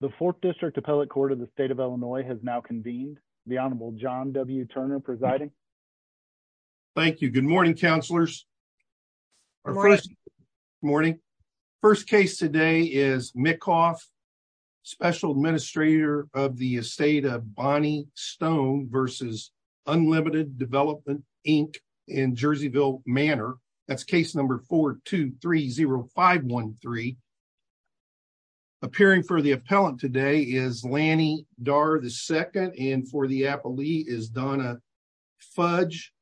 The Fourth District Appellate Court of the State of Illinois has now convened. The Honorable John W. Turner presiding. Thank you. Good morning, counselors. Morning. First case today is Mikoff, special administrator of the estate of Bonnie Stone versus Unlimited Development, Inc. in Jerseyville Manor. That's case number 4-2-3-0-5-1-3. Appearing for the appellant today is Lanny Darr II and for the appellee is Donna Fudge.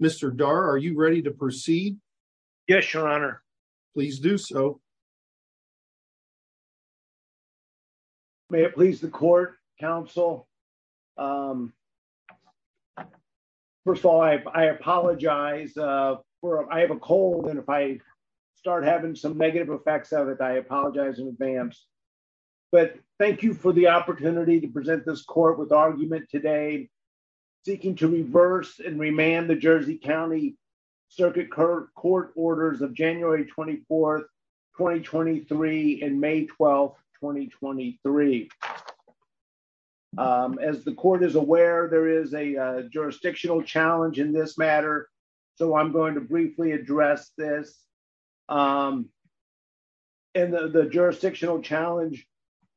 Mr. Darr, are you ready to proceed? Yes, your honor. Please do so. May it please the court, counsel. First of all, I apologize. I have a cold and if I apologize in advance, but thank you for the opportunity to present this court with argument today seeking to reverse and remand the Jersey County Circuit Court orders of January 24, 2023 and May 12, 2023. As the court is aware, there is a jurisdictional challenge in this matter, so I'm going to briefly address this. The jurisdictional challenge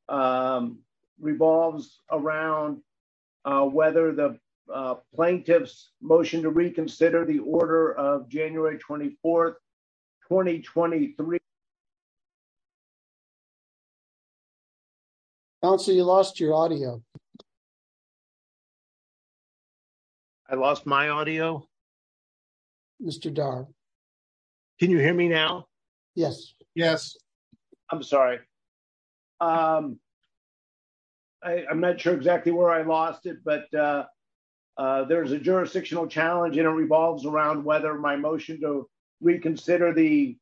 revolves around whether the plaintiff's motion to reconsider the order of January 24, 2023. Counsel, you lost your audio. I lost my audio? Mr. Darr. Can you hear me now? Yes. Yes. I'm sorry. I'm not sure exactly where I lost it, but there's a jurisdictional challenge and it revolves around whether my motion to reconsider the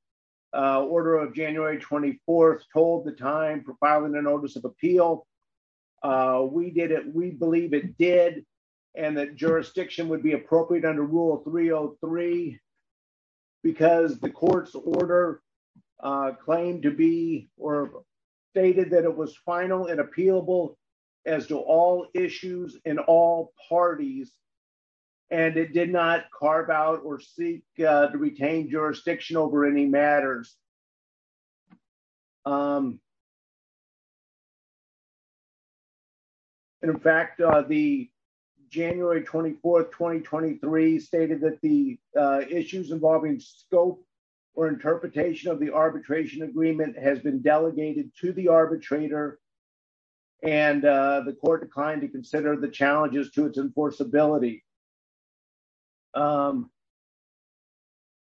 order of January 24th told the time for filing a notice of appeal. We did it. We believe it did and that jurisdiction would be appropriate under Rule 303 because the court's order claimed to be or stated that it was final and appealable as to all issues in all parties and it did not carve out or seek to retain jurisdiction over any matters. In fact, the January 24, 2023 stated that the issues involving scope or interpretation of the arbitration agreement has been delegated to the arbitrator and the court declined to consider the challenges to its enforceability.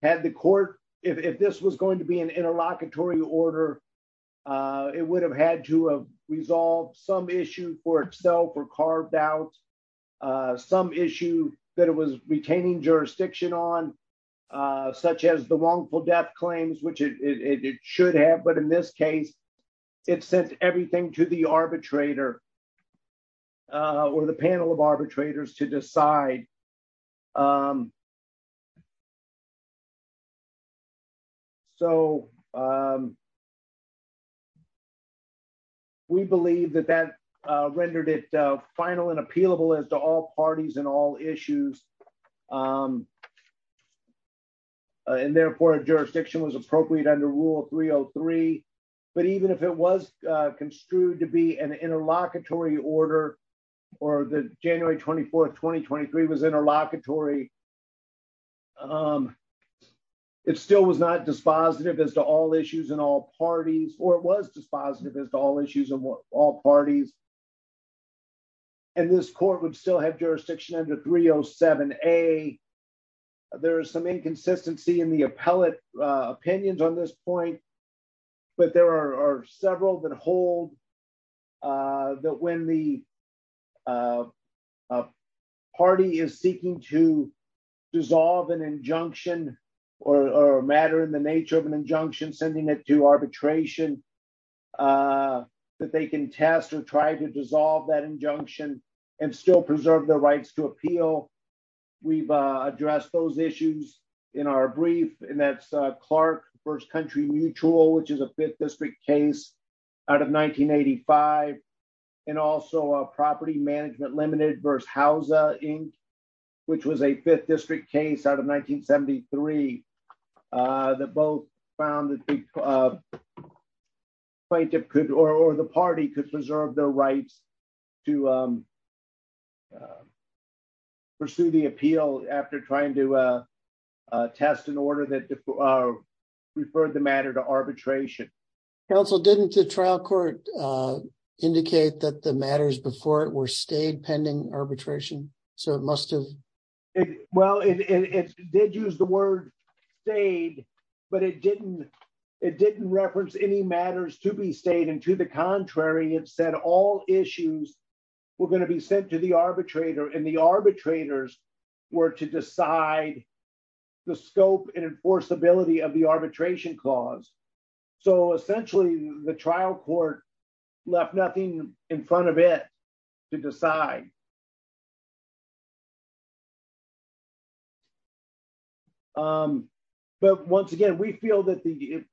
Had the court, if this was going to be an interlocutory order, it would have had to have resolved some issue for itself or carved out some issue that it was retaining jurisdiction on, such as the wrongful death claims, which it should have, but in this case, it did not. So, we believe that that rendered it final and appealable as to all parties and all issues and therefore, jurisdiction was appropriate under Rule 303, but even if it was construed to an interlocutory order or the January 24, 2023 was interlocutory, it still was not dispositive as to all issues in all parties or was dispositive as to all issues of all parties and this court would still have jurisdiction under 307A. There is some inconsistency in the appellate opinions on this point, but there are several that hold that when the party is seeking to dissolve an injunction or a matter in the nature of an injunction, sending it to arbitration, that they can test or try to dissolve that injunction and still preserve their rights to appeal. We've addressed those issues in our brief, and that's Clark v. Country Mutual, which is a 5th District case out of 1985, and also Property Management Limited v. Houza, Inc., which was a 5th District case out of 1973 that both found that the plaintiff or the party could preserve their rights to pursue the appeal after trying to test an order that referred the matter to arbitration. Counsel, didn't the trial court indicate that the matters before it were stayed pending arbitration? It did use the word stayed, but it didn't reference any matters to be stayed, and to the contrary, it said all issues were going to be sent to the arbitrator, and the arbitrators were to decide the scope and enforceability of the arbitration clause. Essentially, the trial court left nothing in front of it to decide. But once again, we feel that the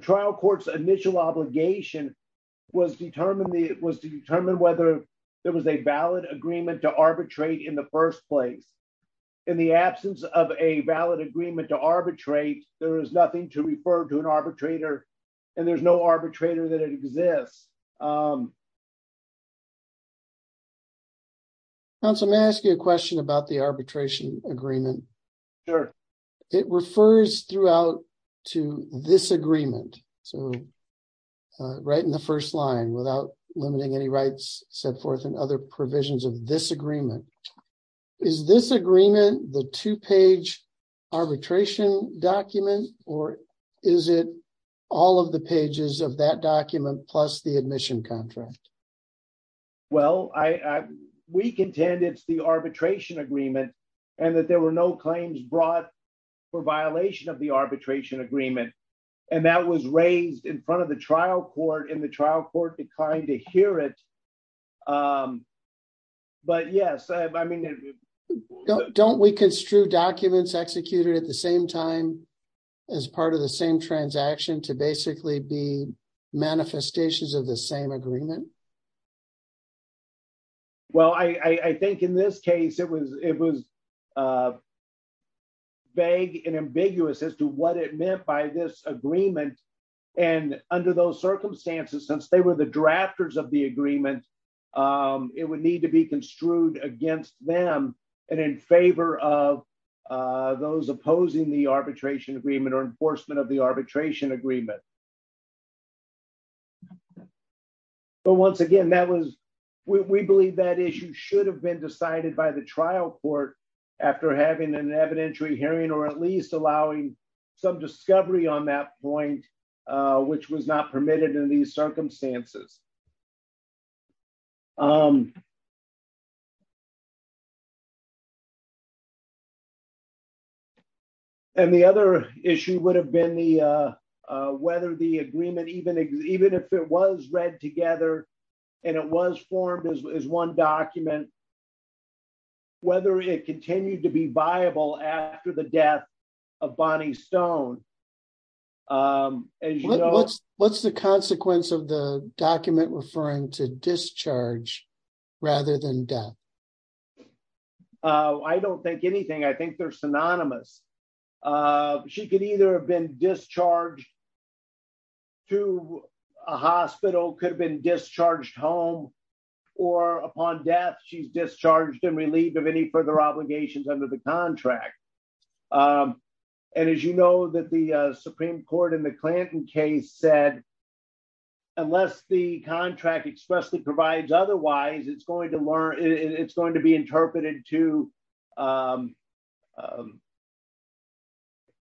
trial court's initial obligation was to determine whether there was a valid agreement to arbitrate in the first place. In the absence of a valid agreement to arbitrate, there is nothing to refer to an arbitrator, and there's no arbitrator that exists. Counsel, may I ask you a question about the arbitration agreement? Sure. It refers throughout to this agreement, so right in the first line, without limiting any rights set forth and other provisions of this agreement. Is this agreement the two-page arbitration document, or is it all of the pages of that document plus the admission contract? Well, we contend it's the arbitration agreement, and that there were no claims brought for violation of the arbitration agreement, and that was raised in front of the trial court, and the trial court declined to hear it. Don't we construe documents executed at the same time as part of the same transaction to basically be manifestations of the same agreement? Well, I think in this case, it was vague and ambiguous as to what it meant by this agreement, and under those circumstances, since they were the drafters of the agreement, it would need to be construed against them and in favor of those opposing the arbitration agreement or enforcement of the arbitration agreement. But once again, we believe that issue should have been decided by the trial court after having an evidentiary hearing or at least allowing some discovery on that point, which was not permitted in these circumstances. And the other issue would have been whether the agreement, even if it was read together and it was formed as one document, whether it continued to be viable after the death of Bonnie Stone. What's the consequence of the document referring to discharge rather than death? I don't think anything. I think they're synonymous. She could either have been discharged to a hospital, could have been discharged home, or upon death, she's discharged and relieved of further obligations under the contract. And as you know, that the Supreme Court in the Clanton case said, unless the contract expressly provides otherwise, it's going to be interpreted to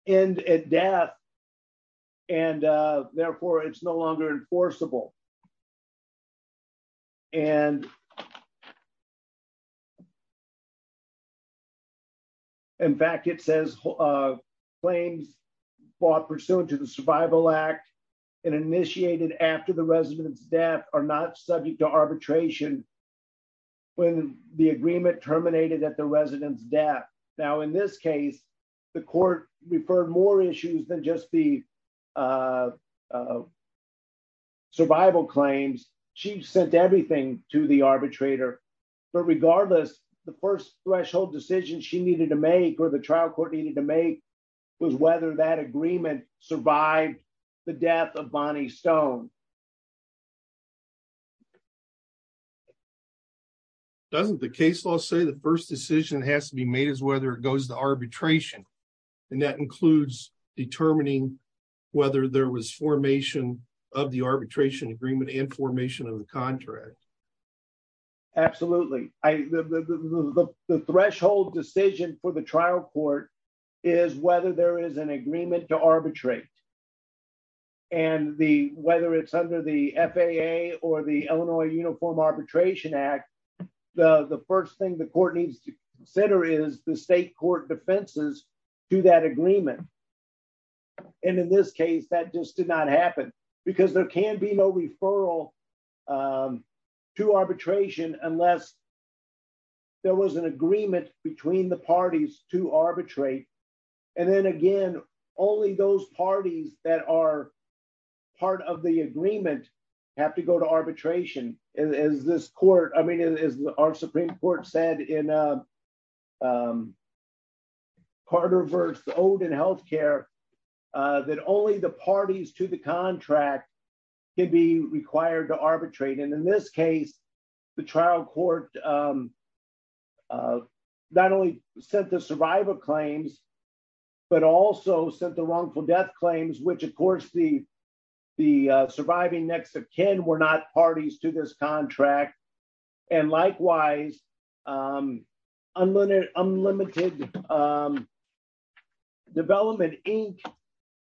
end at death, and therefore, it's no longer enforceable. And in fact, it says, claims brought pursuant to the Survival Act and initiated after the resident's death are not subject to arbitration when the agreement terminated at the resident's death. Now, in this case, the court referred more issues than just the survival claims. She sent everything to the arbitrator. But regardless, the first threshold decision she needed to make or the trial court needed to make was whether that agreement survived the death of Bonnie Stone. Doesn't the case law say the first decision has to be made as whether it goes to arbitration? And that includes determining whether there was formation of the arbitration agreement and formation of the contract? Absolutely. The threshold decision for the trial court is whether there is an agreement to arbitrate. And whether it's an agreement to terminate. Under the FAA or the Illinois Uniform Arbitration Act, the first thing the court needs to consider is the state court defenses to that agreement. And in this case, that just did not happen, because there can be no referral to arbitration unless there was an agreement between the parties to arbitrate. And then again, only those parties that are part of the agreement have to go to arbitration. As this court, I mean, as our Supreme Court said in Carter v. Oden Healthcare, that only the parties to the contract can be required to arbitrate. And in this case, the trial court not only sent the survivor claims, but also sent the wrongful death claims, which of course, the surviving next of kin were not parties to this contract. And likewise, unlimited Unlimited Development Inc.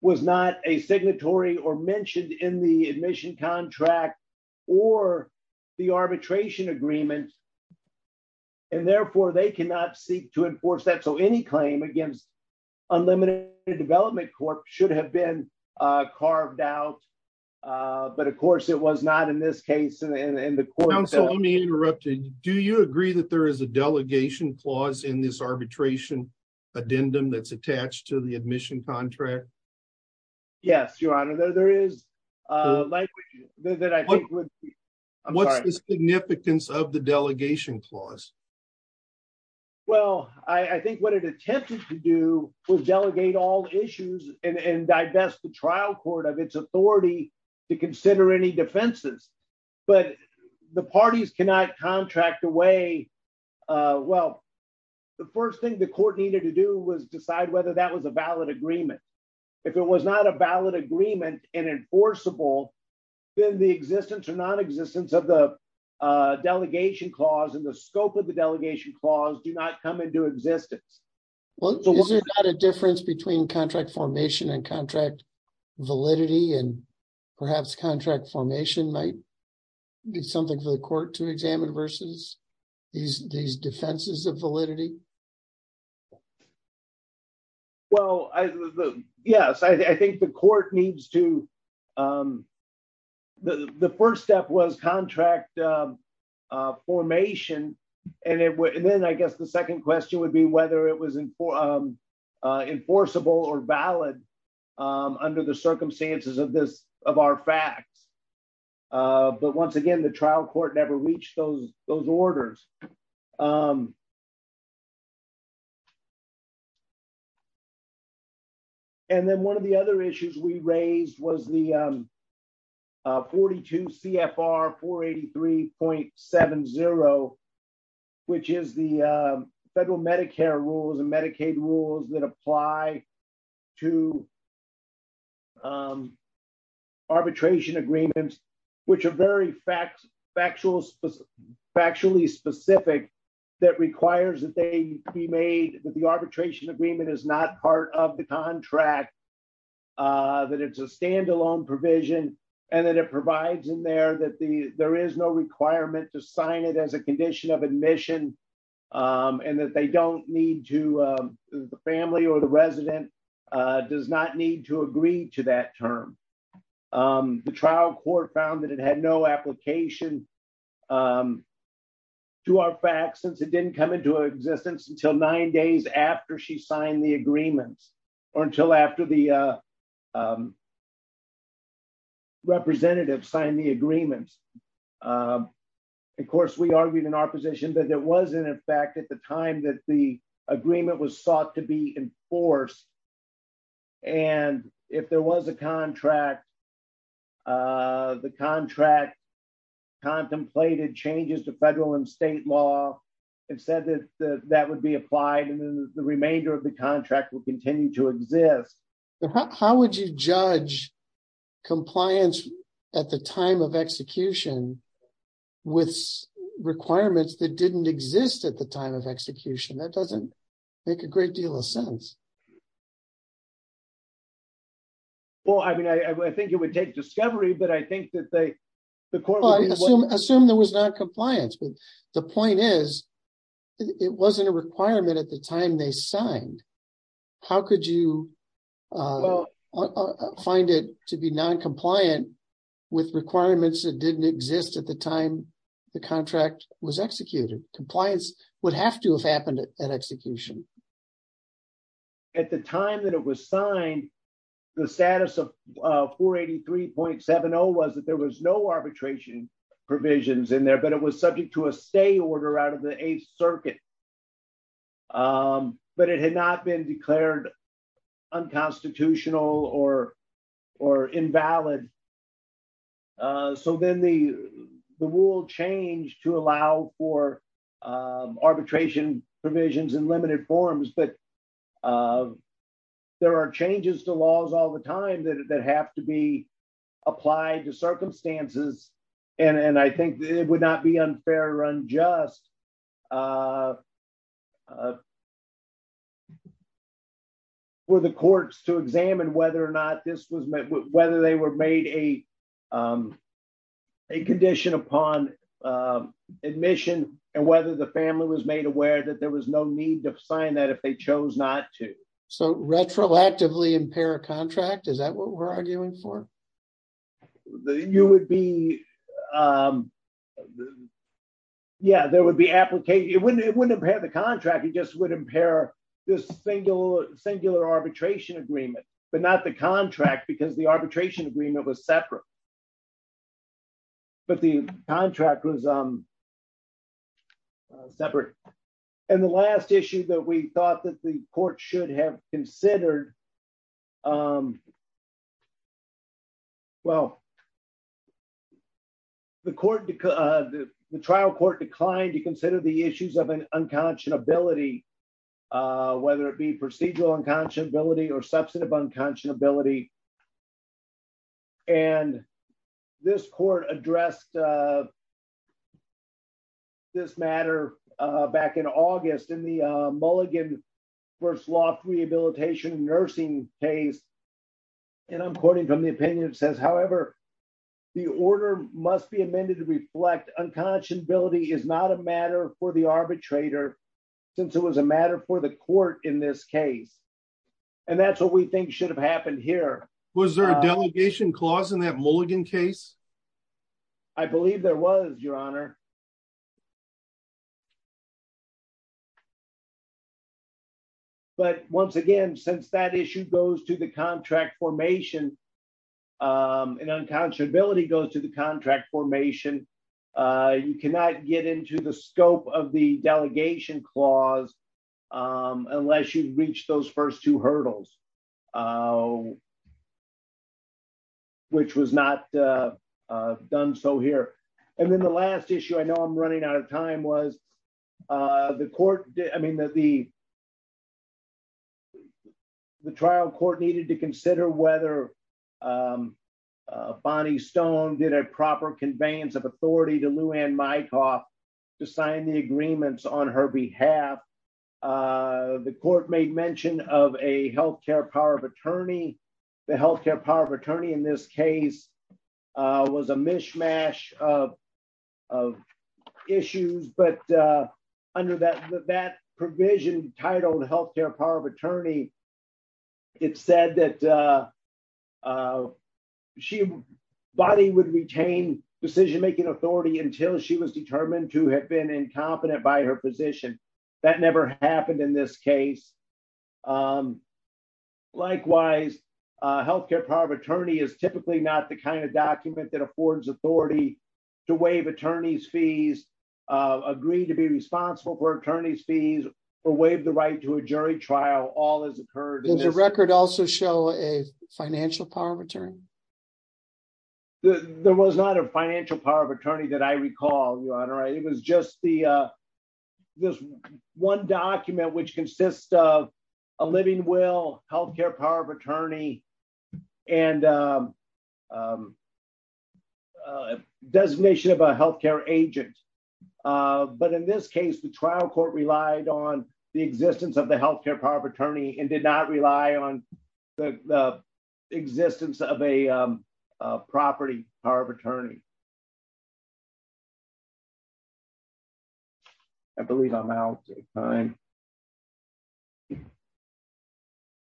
was not a signatory or mentioned in the admission contract or the arbitration agreement. And therefore, they cannot seek to enforce that. So any claim against Unlimited Development Corp. should have been carved out. But of course, it was not in this case. So let me interrupt you. Do you agree that there is a delegation clause in this arbitration addendum that's attached to the admission contract? Yes, Your Honor, there is. What's the significance of the delegation clause? Well, I think what it attempted to do was delegate all issues and divest the trial court of its authority to consider any defenses. But the parties cannot contract away. Well, the first thing the court needed to do was decide whether that was a valid agreement. If it was not a valid agreement and enforceable, then the existence or non existence of the delegation clause and the scope of the delegation clause do not come into existence. Well, is there not a difference between contract formation and contract validity and perhaps contract formation might be something for the court to examine versus these defenses of validity? Well, yes, I think the court needs to. The first step was contract formation. And then I guess the second question would be whether it was enforceable or valid under the circumstances of our facts. But once again, the trial court never reached those orders. And then one of the other issues we raised was the 42 CFR 483.70, which is the federal Medicare rules and Medicaid rules that apply to that requires that they be made that the arbitration agreement is not part of the contract, that it's a standalone provision, and that it provides in there that the there is no requirement to sign it as a condition of admission, and that they don't need to, the family or the resident does not need to agree to that term. Um, the trial court found that it had no application to our facts since it didn't come into existence until nine days after she signed the agreements, or until after the representative signed the agreements. Of course, we argued in our position, but there wasn't a fact at the time that the agreement was sought to be enforced. And if there was a contract, the contract contemplated changes to federal and state law and said that that would be applied and the remainder of the contract will continue to exist. How would you judge compliance at the time of execution, with requirements that didn't exist at the time of execution that doesn't make a great deal of sense? Well, I mean, I think it would take discovery, but I think that they, the court, assume there was not compliance. But the point is, it wasn't a requirement at the time they signed. How could you find it to be non-compliant with requirements that didn't exist at the time the contract was executed? Compliance would have to have happened at execution. At the time that it was signed, the status of 483.70 was that there was no arbitration provisions in there, but it was subject to a stay order out of the Eighth Circuit. But it had not been declared unconstitutional or invalid. So then the rule changed to allow for arbitration provisions in limited forms. But there are changes to laws all the time that have to be applied to circumstances. And I think it would not be unfair or unjust for the courts to examine whether or not this was, whether they were made a condition upon admission and whether the family was made aware that there was no need to sign that if they chose not to. So retroactively impair a contract, is that what we're arguing for? You would be, yeah, there would be application. It wouldn't impair the contract, it just would impair this singular arbitration agreement, but not the contract because the arbitration agreement was separate. But the contract was separate. And the last issue that we thought that the court should have considered, well, the trial court declined to consider the issues of an unconscionability, whether it be procedural unconscionability or substantive unconscionability. And this court addressed this matter back in August in the Mulligan v. Loft Rehabilitation Nursing case. And I'm quoting from the opinion that says, however, the order must be amended to reflect unconscionability is not a matter for the arbitrator since it was a matter for the court in this case. And that's what we think should have happened here. Was there a delegation clause in that Mulligan case? I believe there was, your honor. But once again, since that issue goes to the contract formation, an unconscionability goes to the contract formation. You cannot get into the scope of delegation clause unless you've reached those first two hurdles, which was not done so here. And then the last issue, I know I'm running out of time, was the trial court needed to consider whether Bonnie Stone did a proper conveyance of authority to Lou Anne Mykoff to sign the agreements on her behalf. The court made mention of a health care power of attorney. The health care power of attorney in this case was a mishmash of issues, but under that provision titled health care power of attorney, it said that she, Bonnie would retain decision-making authority until she was determined to have been incompetent by her position. That never happened in this case. Likewise, health care power of attorney is typically not the kind of document that affords authority to waive attorney's fees, agree to be responsible for attorney's fees, or waive the jury trial. Does the record also show a financial power of attorney? There was not a financial power of attorney that I recall, Your Honor. It was just this one document which consists of a living will, health care power of attorney, and a designation of a health care agent. In this case, the trial court relied on the existence of the health care power of attorney and did not rely on the existence of a property power of attorney. I believe I'm out of time.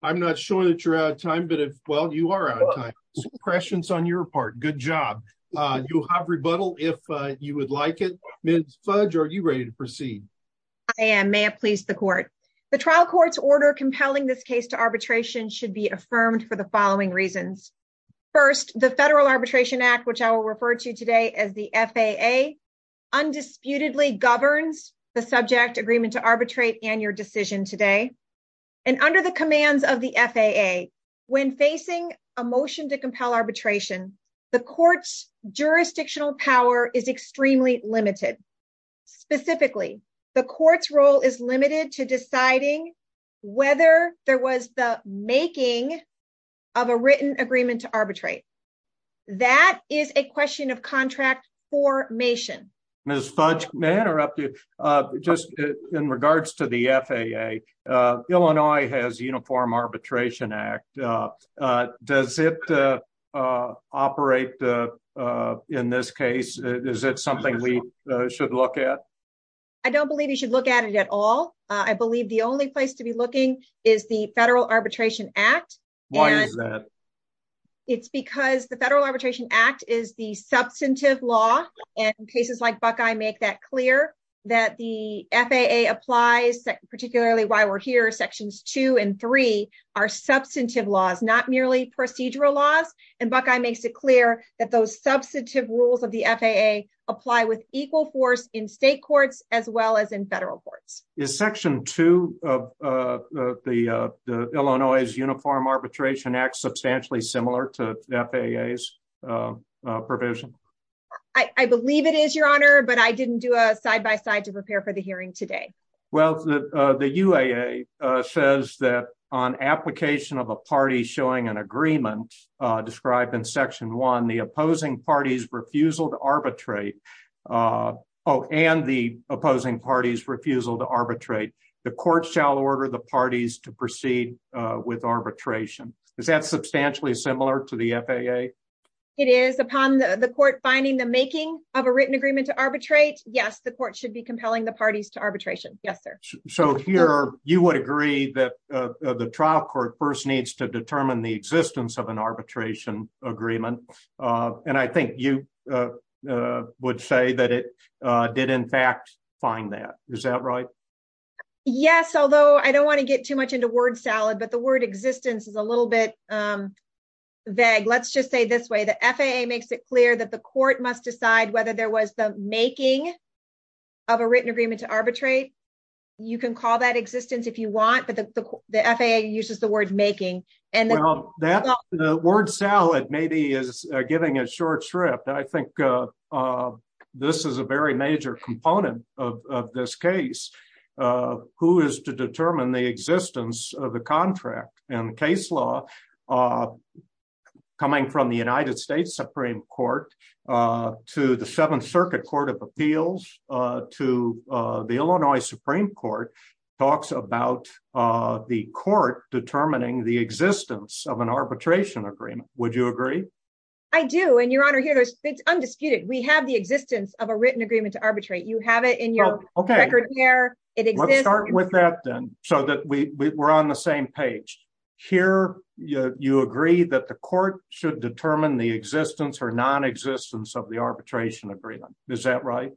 I'm not sure that you're out of time, but well, you are out of time. Some questions on your part. Good job. You have rebuttal if you would like it. Ms. Fudge, are you ready to proceed? I am. May it please the court. The trial court's order compelling this case to arbitration should be affirmed for the following reasons. First, the Federal Arbitration Act, which I will refer to today as the FAA, undisputedly governs the subject agreement to arbitrate and your decision today. And under the commands of the FAA, when facing a motion to compel arbitration, the court's jurisdictional power is extremely limited. Specifically, the court's role is limited to deciding whether there was the making of a written agreement to arbitrate. That is a question of contract formation. Ms. Fudge, may I interrupt you? In regards to the FAA, Illinois has a Uniform Arbitration Act. Does it operate in this case? Is it something we should look at? I don't believe you should look at it at all. I believe the only place to be at is the Federal Arbitration Act. Why is that? It's because the Federal Arbitration Act is the substantive law, and cases like Buckeye make that clear, that the FAA applies, particularly while we're here, Sections 2 and 3 are substantive laws, not merely procedural laws. And Buckeye makes it clear that those substantive rules of the FAA apply with equal force in state courts as well as in federal courts. Is Section 2 of the Illinois Uniform Arbitration Act substantially similar to the FAA's provision? I believe it is, Your Honor, but I didn't do a side-by-side to prepare for the hearing today. Well, the UAA says that on application of a party showing an opposing party's refusal to arbitrate, the court shall order the parties to proceed with arbitration. Is that substantially similar to the FAA? It is. Upon the court finding the making of a written agreement to arbitrate, yes, the court should be compelling the parties to arbitration. Yes, sir. So here, you would agree that the trial court first needs to determine the existence of an arbitration agreement. And I think you would say that it did, in fact, find that. Is that right? Yes, although I don't want to get too much into word salad, but the word existence is a little bit vague. Let's just say this way. The FAA makes it clear that the court must decide whether there was the making of a written agreement to arbitrate. You can call that existence if you want, but the FAA uses the word making. Well, the word salad maybe is giving it short shrift. I think this is a very major component of this case, who is to determine the existence of the contract and case law coming from the United States Supreme Court to the Seventh Circuit Court of Appeals to the Illinois Supreme Court talks about the court determining the existence of an arbitration agreement. Would you agree? I do. And Your Honor, here, it's undisputed. We have the existence of a written agreement to arbitrate. You have it in your record here. It exists. Let's start with that then so that we're on the same page. Here, you agree that the court should determine the existence or non-existence of the arbitration agreement. Is that right?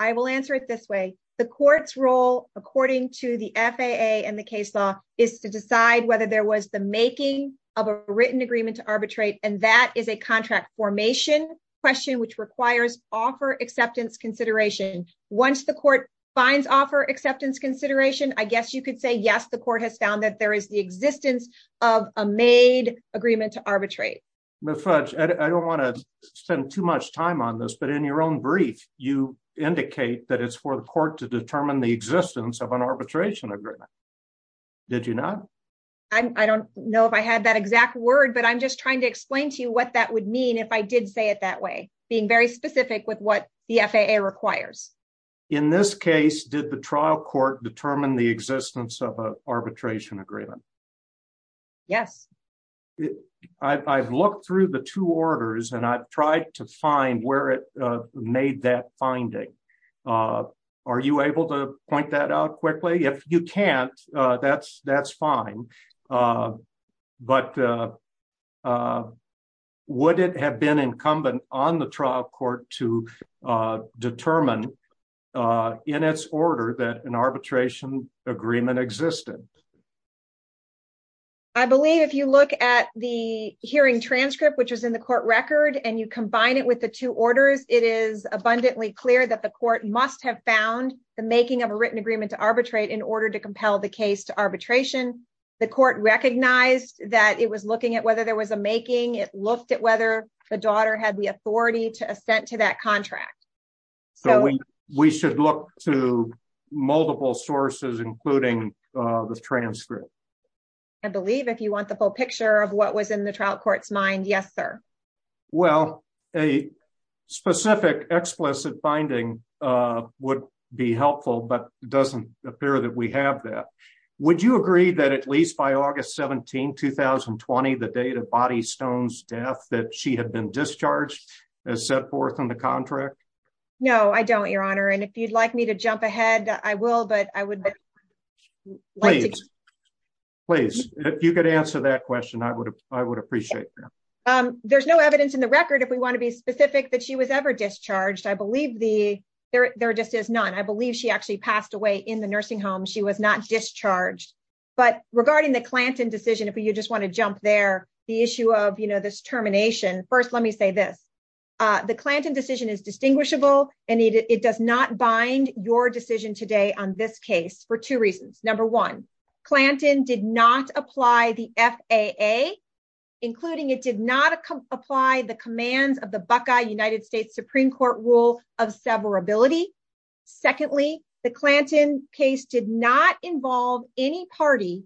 I will answer it this way. The court's role, according to the FAA and the case law, is to decide whether there was the making of a written agreement to arbitrate, and that is a contract formation question which requires offer acceptance consideration. Once the court finds offer acceptance consideration, I guess you could say, yes, the court has found that there is the existence of a made agreement to arbitrate. Ms. Fudge, I don't want to spend too much time on this, but in your own brief, you indicate that it's for the court to determine the existence of an arbitration agreement. Did you not? I don't know if I had that exact word, but I'm just trying to explain to you what that would mean if I did say it that way, being very specific with what the FAA requires. In this case, did the trial court determine the existence of an arbitration agreement? Yes. I've looked through the two orders and I've tried to find where it made that finding. Are you able to point that out quickly? If you can't, that's fine, but would it have been incumbent on the trial court to determine in its order that an arbitration agreement existed? I believe if you look at the hearing transcript which was in the court record and you combine it with the two orders, it is abundantly clear that the court must have found the making of a written agreement to arbitrate in order to compel the case to arbitration. The court recognized that it was looking at whether there was a making. It looked at whether the daughter had the authority to assent to that contract. We should look to multiple sources including the transcript. I believe if you want the full picture of what was in the trial court's mind, yes, sir. Well, a specific explicit finding would be helpful, but it doesn't appear that we have that. Would you agree that at least by August 17, 2020, the date of Bonnie Stone's death, that she had been discharged as set forth in the contract? No, I don't, your honor, and if you'd like me to jump ahead, I will, but I would like to. Please, if you could answer that question, I would appreciate that. There's no evidence in the record, if we want to be specific, that she was ever discharged. I believe there just is none. I believe she actually passed away in the nursing home. She was not discharged, but regarding the Clanton decision, if you just want to jump there, the issue of, you know, this termination. First, let me say this. The Clanton decision is distinguishable and it does not bind your decision today on this case for two reasons. Number one, Clanton did not apply the FAA, including it did not apply the commands of the Buckeye United States Supreme Court rule of severability. Secondly, the Clanton case did not involve any party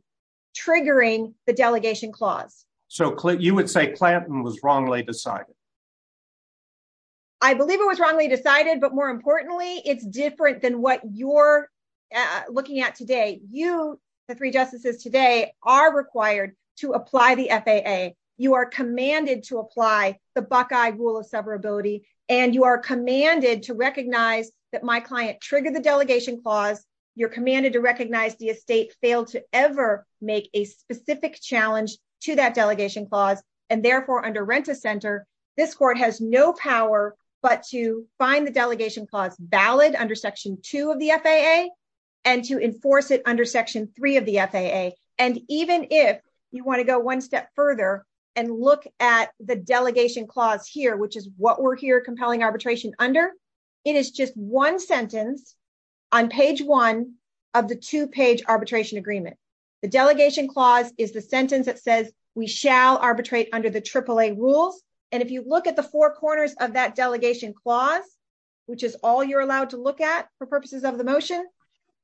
triggering the delegation clause. So you would say Clanton was wrongly decided? I believe it was wrongly decided, but more importantly, it's different than what you're looking at today. You, the three justices today, are required to apply the FAA. You are commanded to apply the Buckeye rule of severability and you are commanded to recognize that my client triggered the delegation clause. You're commanded to recognize the estate failed to ever make a decision. This court has no power, but to find the delegation clause valid under section two of the FAA and to enforce it under section three of the FAA. And even if you want to go one step further and look at the delegation clause here, which is what we're here compelling arbitration under, it is just one sentence on page one of the two page arbitration agreement. The delegation clause is the sentence that says we shall arbitrate under the AAA rules. And if you look at the four corners of that delegation clause, which is all you're allowed to look at for purposes of the motion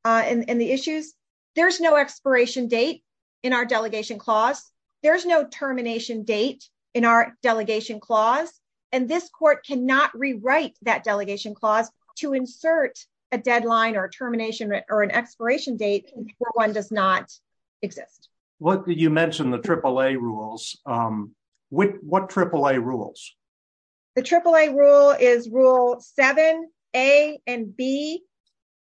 and the issues, there's no expiration date in our delegation clause. There's no termination date in our delegation clause. And this court cannot rewrite that delegation clause to insert a deadline or a termination or an expiration date where one does not exist. You mentioned the AAA rules. What AAA rules? The AAA rule is rule seven, A and B.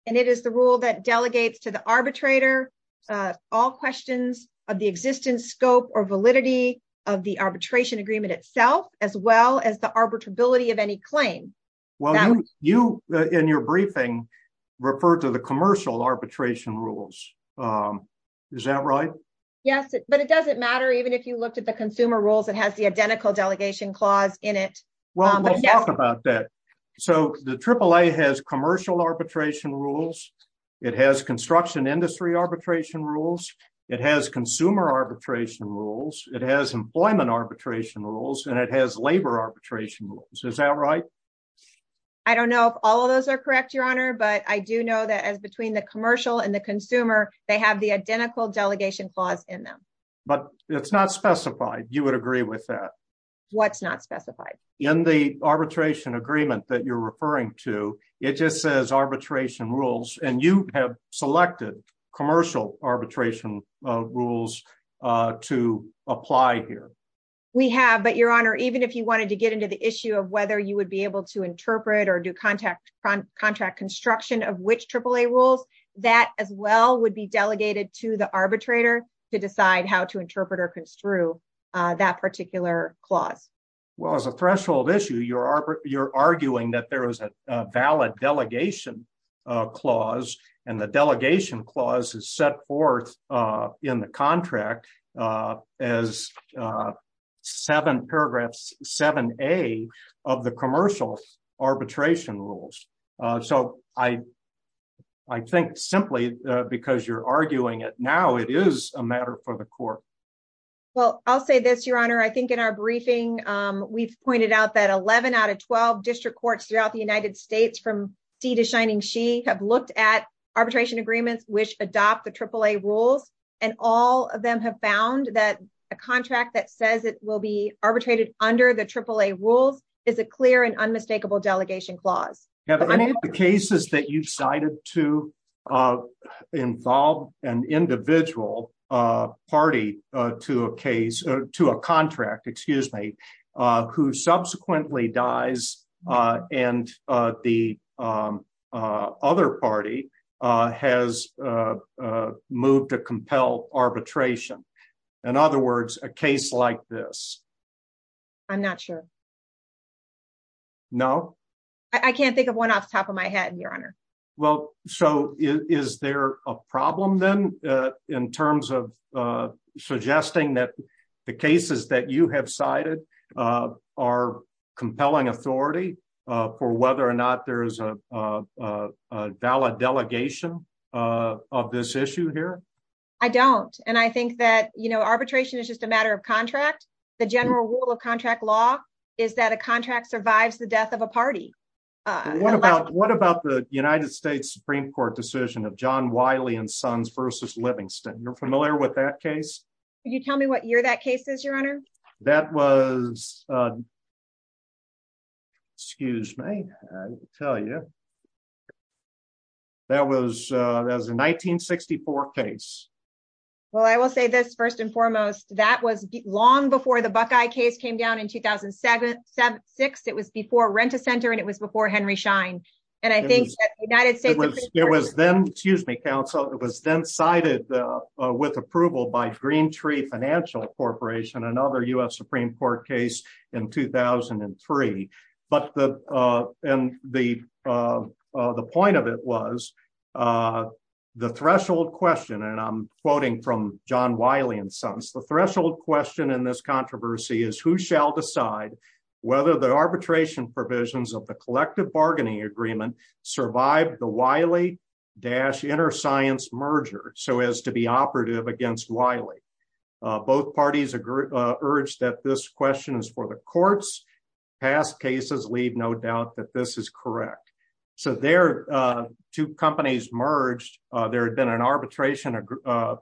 And it is the rule that delegates to the arbitrator all questions of the existence, scope, or validity of the arbitration agreement itself, as well as the arbitrability of any claim. Well, you in your briefing referred to the commercial arbitration rules. Is that right? Yes, but it doesn't matter. Even if you looked at the consumer rules, it has the identical delegation clause in it. Well, we'll talk about that. So the AAA has commercial arbitration rules. It has construction industry arbitration rules. It has consumer arbitration rules. It has employment arbitration rules, and it has labor arbitration rules. Is that right? I don't know if all of those are correct, Your Honor, but I do know that as between the commercial and the consumer, they have the identical delegation clause in them. But it's not specified. You would agree with that. What's not specified? In the arbitration agreement that you're referring to, it just says arbitration rules, and you have selected commercial arbitration rules to apply here. We have, but Your Honor, even if you wanted to get into the issue of whether you would be able to interpret or do contract construction of which AAA rules, that as well would be delegated to the arbitrator to decide how to interpret or construe that particular clause. Well, as a threshold issue, you're arguing that there is a valid delegation clause, and the delegation clause is set forth in the contract as paragraph 7A of the commercial arbitration rules. So I think simply because you're arguing it now, it is a matter for the court. Well, I'll say this, Your Honor. I think in our briefing, we've pointed out that 11 out of 12 district courts throughout the United States from sea to shining sea have looked at arbitration agreements which adopt the AAA rules, and all of them have found that a contract that says it will be arbitrated under the AAA rules is a clear and unmistakable delegation clause. Have any of the cases that you've cited to involve an individual party to a contract, excuse me, who subsequently dies and the other party has moved to compel arbitration? In other words, a case like this? I'm not sure. No? I can't think of one off the top of my head, Your Honor. Well, so is there a problem then in terms of suggesting that the cases that you have cited are compelling authority for whether or not there is a valid delegation of this issue here? I don't. And I think that arbitration is just a matter of contract. The general rule of contract law is that a contract survives the death of a party. What about the United States Supreme Court decision of John Wiley and Sons versus Livingston? You're familiar with that case? Can you tell me what year that case is, Your Honor? That was, excuse me, I'll tell you. That was a 1964 case. Well, I will say this first and foremost. That was long before the Buckeye case came down in 2007, 2006. It was before Rent-A-Center and it was before Henry Schein. And I think that United States Supreme Court- It was then, excuse me, counsel, it was then cited with approval by Green Tree Financial Corporation, another US Supreme Court case in 2003. But the point of it was the threshold question, and I'm quoting from John Wiley and Sons, the threshold question in this controversy is who shall decide whether the arbitration provisions of the collective bargaining agreement survive the Wiley-Innerscience merger so as to be operative against Wiley. Both parties urge that this question is for the courts. Past cases leave no doubt that this is correct. So there, two companies merged. There had been an arbitration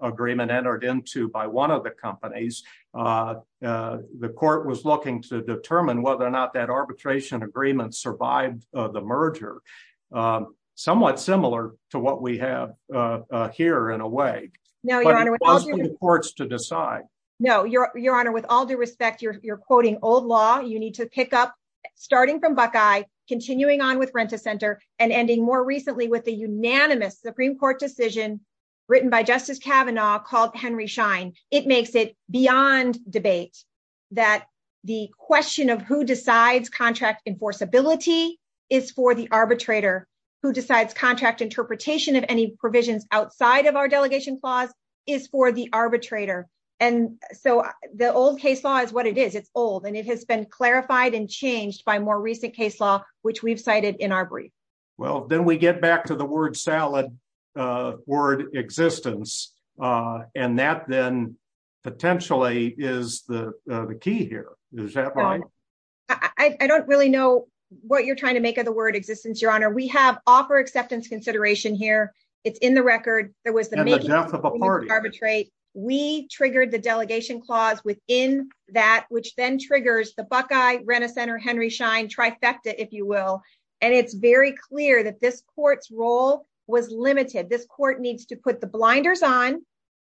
agreement entered into by one of the companies. The court was looking to determine whether or not that arbitration agreement survived the merger. Somewhat similar to what we have here in a way. No, Your Honor- But it was for the courts to decide. No, Your Honor, with all due respect, you're quoting old law. You need to pick up starting from Buckeye, continuing on with Rent-A-Center, and ending more recently with the unanimous Supreme Court decision written by Justice Kavanaugh called Henry Schein. It makes it beyond debate that the question of who decides contract enforceability is for the arbitrator, who decides contract interpretation of any provisions outside of our delegation clause is for the arbitrator. And so the old case law is what it is. It's old, and it has been clarified and changed by more recent case law, which we've cited in our brief. Well, then we get back to the word salad, word existence, and that then potentially is the key here. Is that right? I don't really know what you're trying to make of the word existence, Your Honor. We have offer acceptance consideration here. It's in the record. There was the- And the death of a party. Arbitrate. We triggered the delegation clause within that, which then triggers the Buckeye, that this court's role was limited. This court needs to put the blinders on.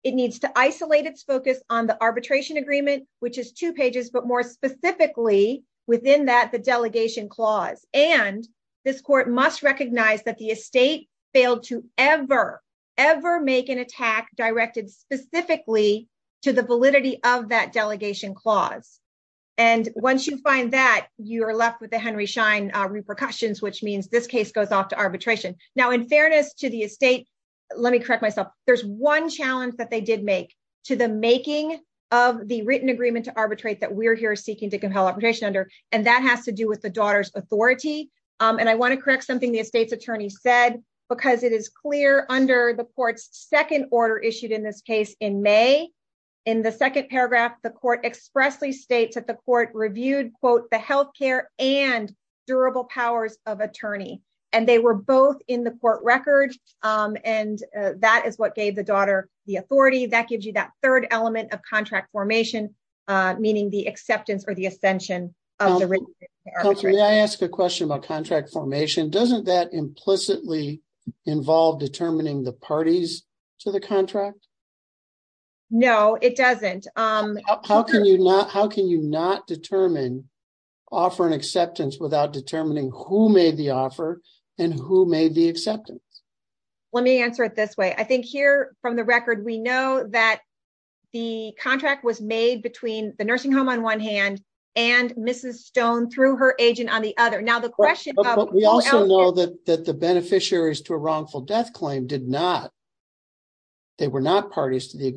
It needs to isolate its focus on the arbitration agreement, which is two pages, but more specifically within that, the delegation clause. And this court must recognize that the estate failed to ever, ever make an attack directed specifically to the validity of that delegation clause. And once you find that, you are left with the Henry Schein repercussions, which means this case goes off to arbitration. Now, in fairness to the estate, let me correct myself. There's one challenge that they did make to the making of the written agreement to arbitrate that we're here seeking to compel arbitration under, and that has to do with the daughter's authority. And I want to correct something the estate's attorney said, because it is clear under the court's second order issued in this case in May, in the second paragraph, the court expressly states that the and they were both in the court record. And that is what gave the daughter the authority. That gives you that third element of contract formation, meaning the acceptance or the ascension of the written agreement to arbitration. May I ask a question about contract formation? Doesn't that implicitly involve determining the parties to the contract? No, it doesn't. How can you not, how can you not determine, offer an acceptance without determining who made the offer and who made the acceptance? Let me answer it this way. I think here from the record, we know that the contract was made between the nursing home on one hand and Mrs. Stone through her agent on the other. Now the question of- We also know that the beneficiaries to a wrongful death claim did not, they were not parties to the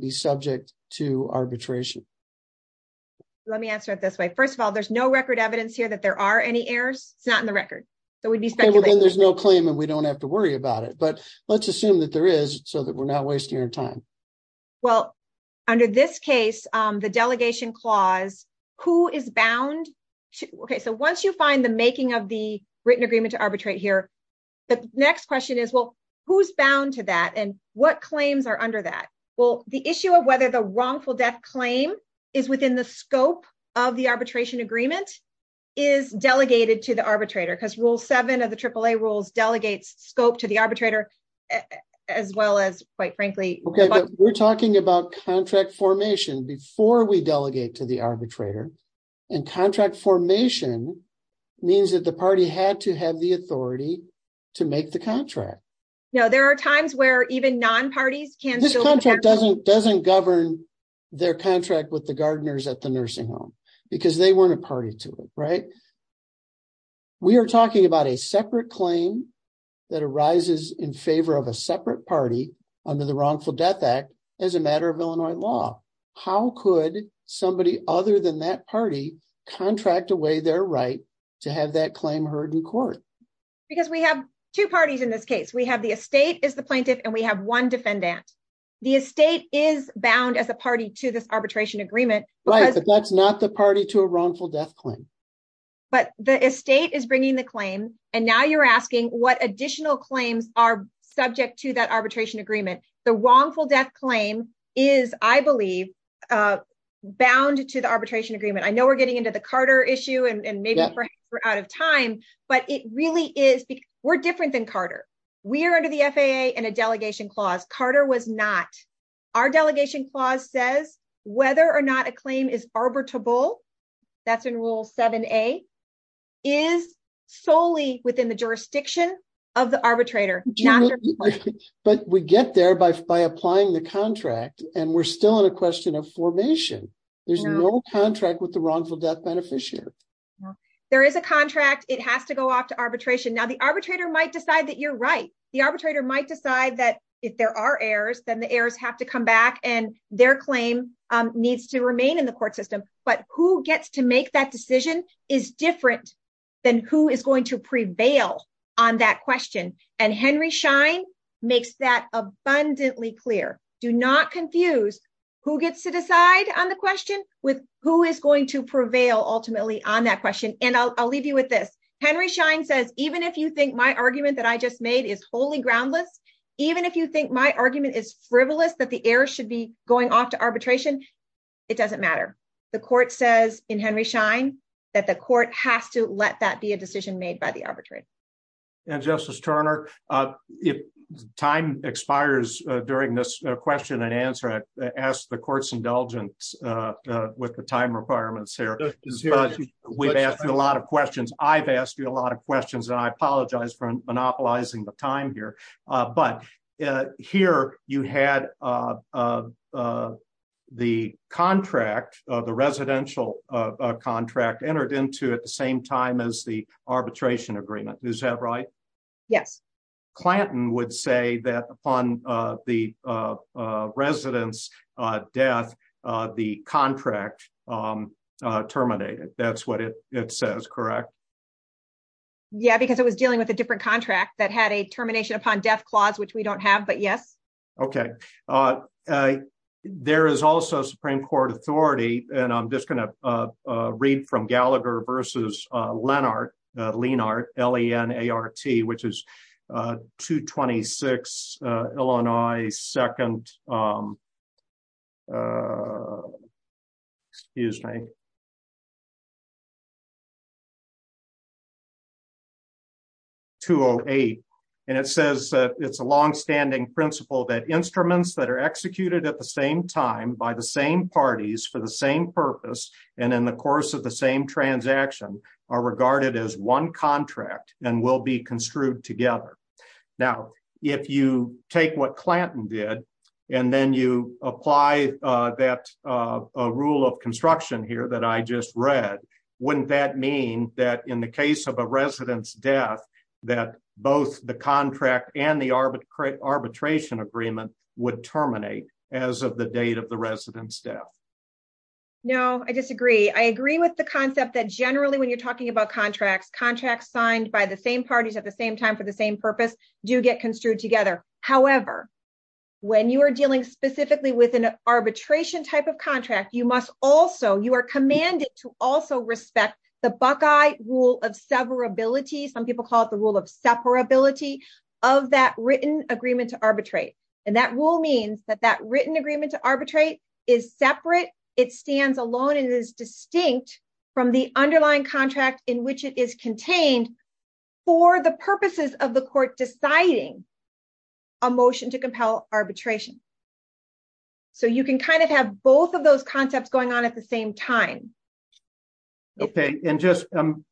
be subject to arbitration. Let me answer it this way. First of all, there's no record evidence here that there are any errors. It's not in the record. So we'd be speculating. There's no claim and we don't have to worry about it, but let's assume that there is so that we're not wasting our time. Well, under this case, the delegation clause, who is bound to, okay, so once you find the making of the written agreement to arbitrate here, the next question is, well, who's bound to that and what will the issue of whether the wrongful death claim is within the scope of the arbitration agreement is delegated to the arbitrator? Because rule seven of the AAA rules delegates scope to the arbitrator as well as quite frankly- Okay, but we're talking about contract formation before we delegate to the arbitrator and contract formation means that the party had to have the doesn't govern their contract with the gardeners at the nursing home because they weren't a party to it, right? We are talking about a separate claim that arises in favor of a separate party under the wrongful death act as a matter of Illinois law. How could somebody other than that party contract away their right to have that claim heard in court? Because we have two parties in this The estate is bound as a party to this arbitration agreement. Right, but that's not the party to a wrongful death claim. But the estate is bringing the claim and now you're asking what additional claims are subject to that arbitration agreement. The wrongful death claim is, I believe, bound to the arbitration agreement. I know we're getting into the Carter issue and maybe perhaps we're out of time, but it really is because we're different than Carter. We are under the FAA and a delegation clause. Carter was not. Our delegation clause says whether or not a claim is arbitrable, that's in rule 7a, is solely within the jurisdiction of the arbitrator. But we get there by applying the contract and we're still in a question of formation. There's no contract with the wrongful death beneficiary. There is a contract. It has to go off to arbitration. Now the arbitrator might decide that you're right. The arbitrator might decide that if there are errors, then the errors have to come back and their claim needs to remain in the court system. But who gets to make that decision is different than who is going to prevail on that question. And Henry Schein makes that abundantly clear. Do not confuse who gets to decide on the question with who is going to prevail ultimately on that question. And I'll leave you with this. Henry Schein says, even if you think my argument I just made is wholly groundless, even if you think my argument is frivolous, that the error should be going off to arbitration, it doesn't matter. The court says in Henry Schein that the court has to let that be a decision made by the arbitrator. And Justice Turner, if time expires during this question and answer, I ask the court's indulgence with the time requirements here. We've asked you a lot of questions. I've asked you a lot of questions and I apologize for monopolizing the time here. But here you had the contract, the residential contract, entered into at the same time as the arbitration agreement. Is that right? Yes. Clanton would say that upon the resident's death, the contract terminated. That's what it says, correct? Yeah, because it was dealing with a different contract that had a termination upon death clause, which we don't have, but yes. Okay. There is also Supreme Court authority, and I'm just going to read from Gallagher versus Lenart, L-E-N-A-R-T, which is 226 Illinois 2nd, excuse me, 208. And it says that it's a longstanding principle that instruments that are executed at the same time by the same parties for the same purpose and in the course of the same transaction are regarded as one contract and will be construed together. Now, if you take what Clanton did and then you apply that rule of construction here that I just read, wouldn't that mean that in the case of a resident's death, that both the contract and the arbitration agreement would terminate as of the date of the resident's death? No, I disagree. I agree with the concept that generally, when you're talking about contracts, contracts signed by the same parties at the same time for the same purpose do get construed together. However, when you are dealing specifically with an arbitration type of contract, you must also, you are commanded to also respect the Buckeye rule of severability. Some people call it the rule of separability of that written agreement to arbitrate. And rule means that that written agreement to arbitrate is separate. It stands alone and is distinct from the underlying contract in which it is contained for the purposes of the court deciding a motion to compel arbitration. So you can kind of have both of those concepts going on at the same time. Okay. And just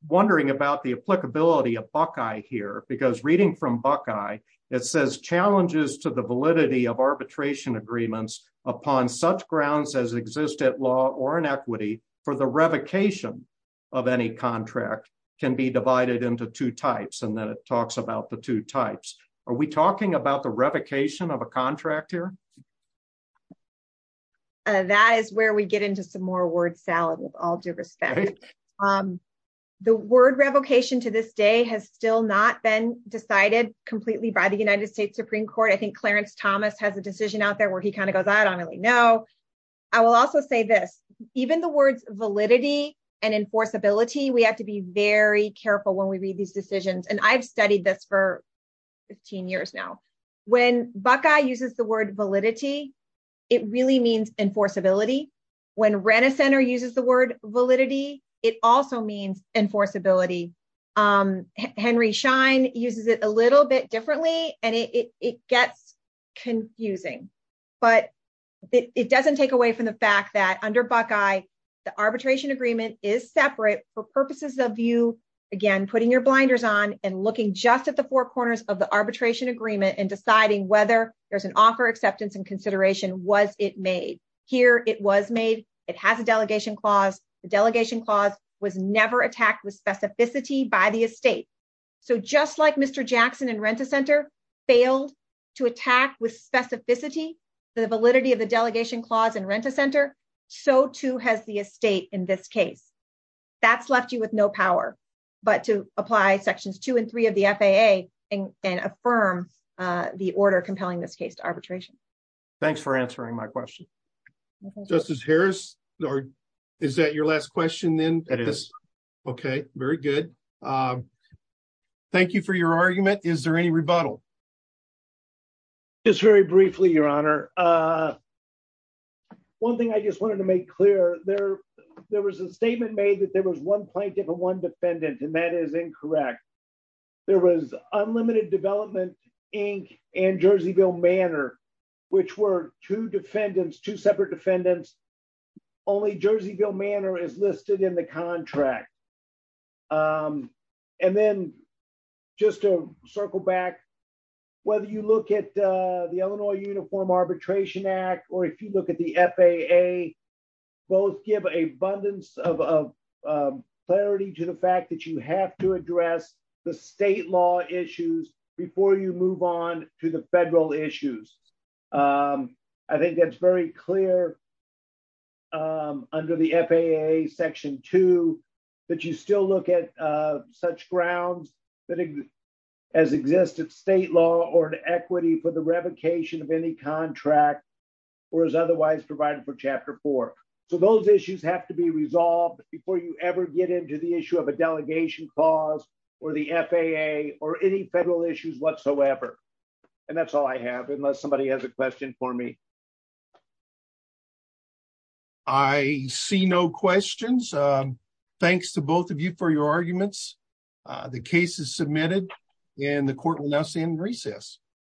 wondering about the applicability of Buckeye here, because reading from Buckeye, it says challenges to the validity of arbitration agreements upon such grounds as exist at law or in equity for the revocation of any contract can be divided into two types. And then it talks about the two types. Are we talking about the revocation of a contract here? That is where we get into some more word salad with all due respect. The word revocation to this day has still not been decided completely by the United States Supreme Court. I think Clarence Thomas has a decision out there where he kind of goes, I don't really know. I will also say this, even the words validity and enforceability, we have to be very careful when we read these decisions. And I've studied this for 15 years now. When Buckeye uses the word validity, it really means enforceability. When Renner Center uses the word validity, it also means enforceability. Henry Schein uses it a little bit differently, and it gets confusing. But it doesn't take away from the fact that under Buckeye, the arbitration agreement is separate for purposes of you, again, putting your blinders on and looking just at the four corners of the arbitration agreement and deciding whether there's an offer, acceptance, and consideration. Was it made? Here, it was made. It has a delegation clause. The delegation clause was never attacked with specificity by the estate. So just like Mr. Jackson in Renner Center failed to attack with specificity, the validity of the delegation clause in Renner Center, so too has the estate in this case. That's left you with no power but to apply sections two and three of the FAA and affirm the order compelling this case to arbitration. Thanks for answering my question. Justice Harris, is that your last question then? It is. Okay, very good. Thank you for your argument. Is there any rebuttal? Just very briefly, Your Honor. One thing I just wanted to make clear, there was a statement made that there was one plaintiff and one defendant, and that is incorrect. There was unlimited development, Inc., and Jerseyville Manor, which were two defendants, two separate defendants. Only Jerseyville Manor is listed in the contract. And then just to circle back, whether you look at the Illinois Uniform Arbitration Act or if you look at the FAA, both give an abundance of clarity to the fact that you have to address the state law issues before you move on to the federal issues. I think that's very clear under the FAA section two that you still look at such grounds that exist as existed state law or an equity for the revocation of any contract or is otherwise provided for chapter four. So, those issues have to be resolved before you ever get into the issue of a delegation clause or the FAA or any federal issues whatsoever. And that's all I have unless somebody has a question for me. I see no questions. Thanks to both of you for your arguments. The case is submitted and the court will now stand in recess.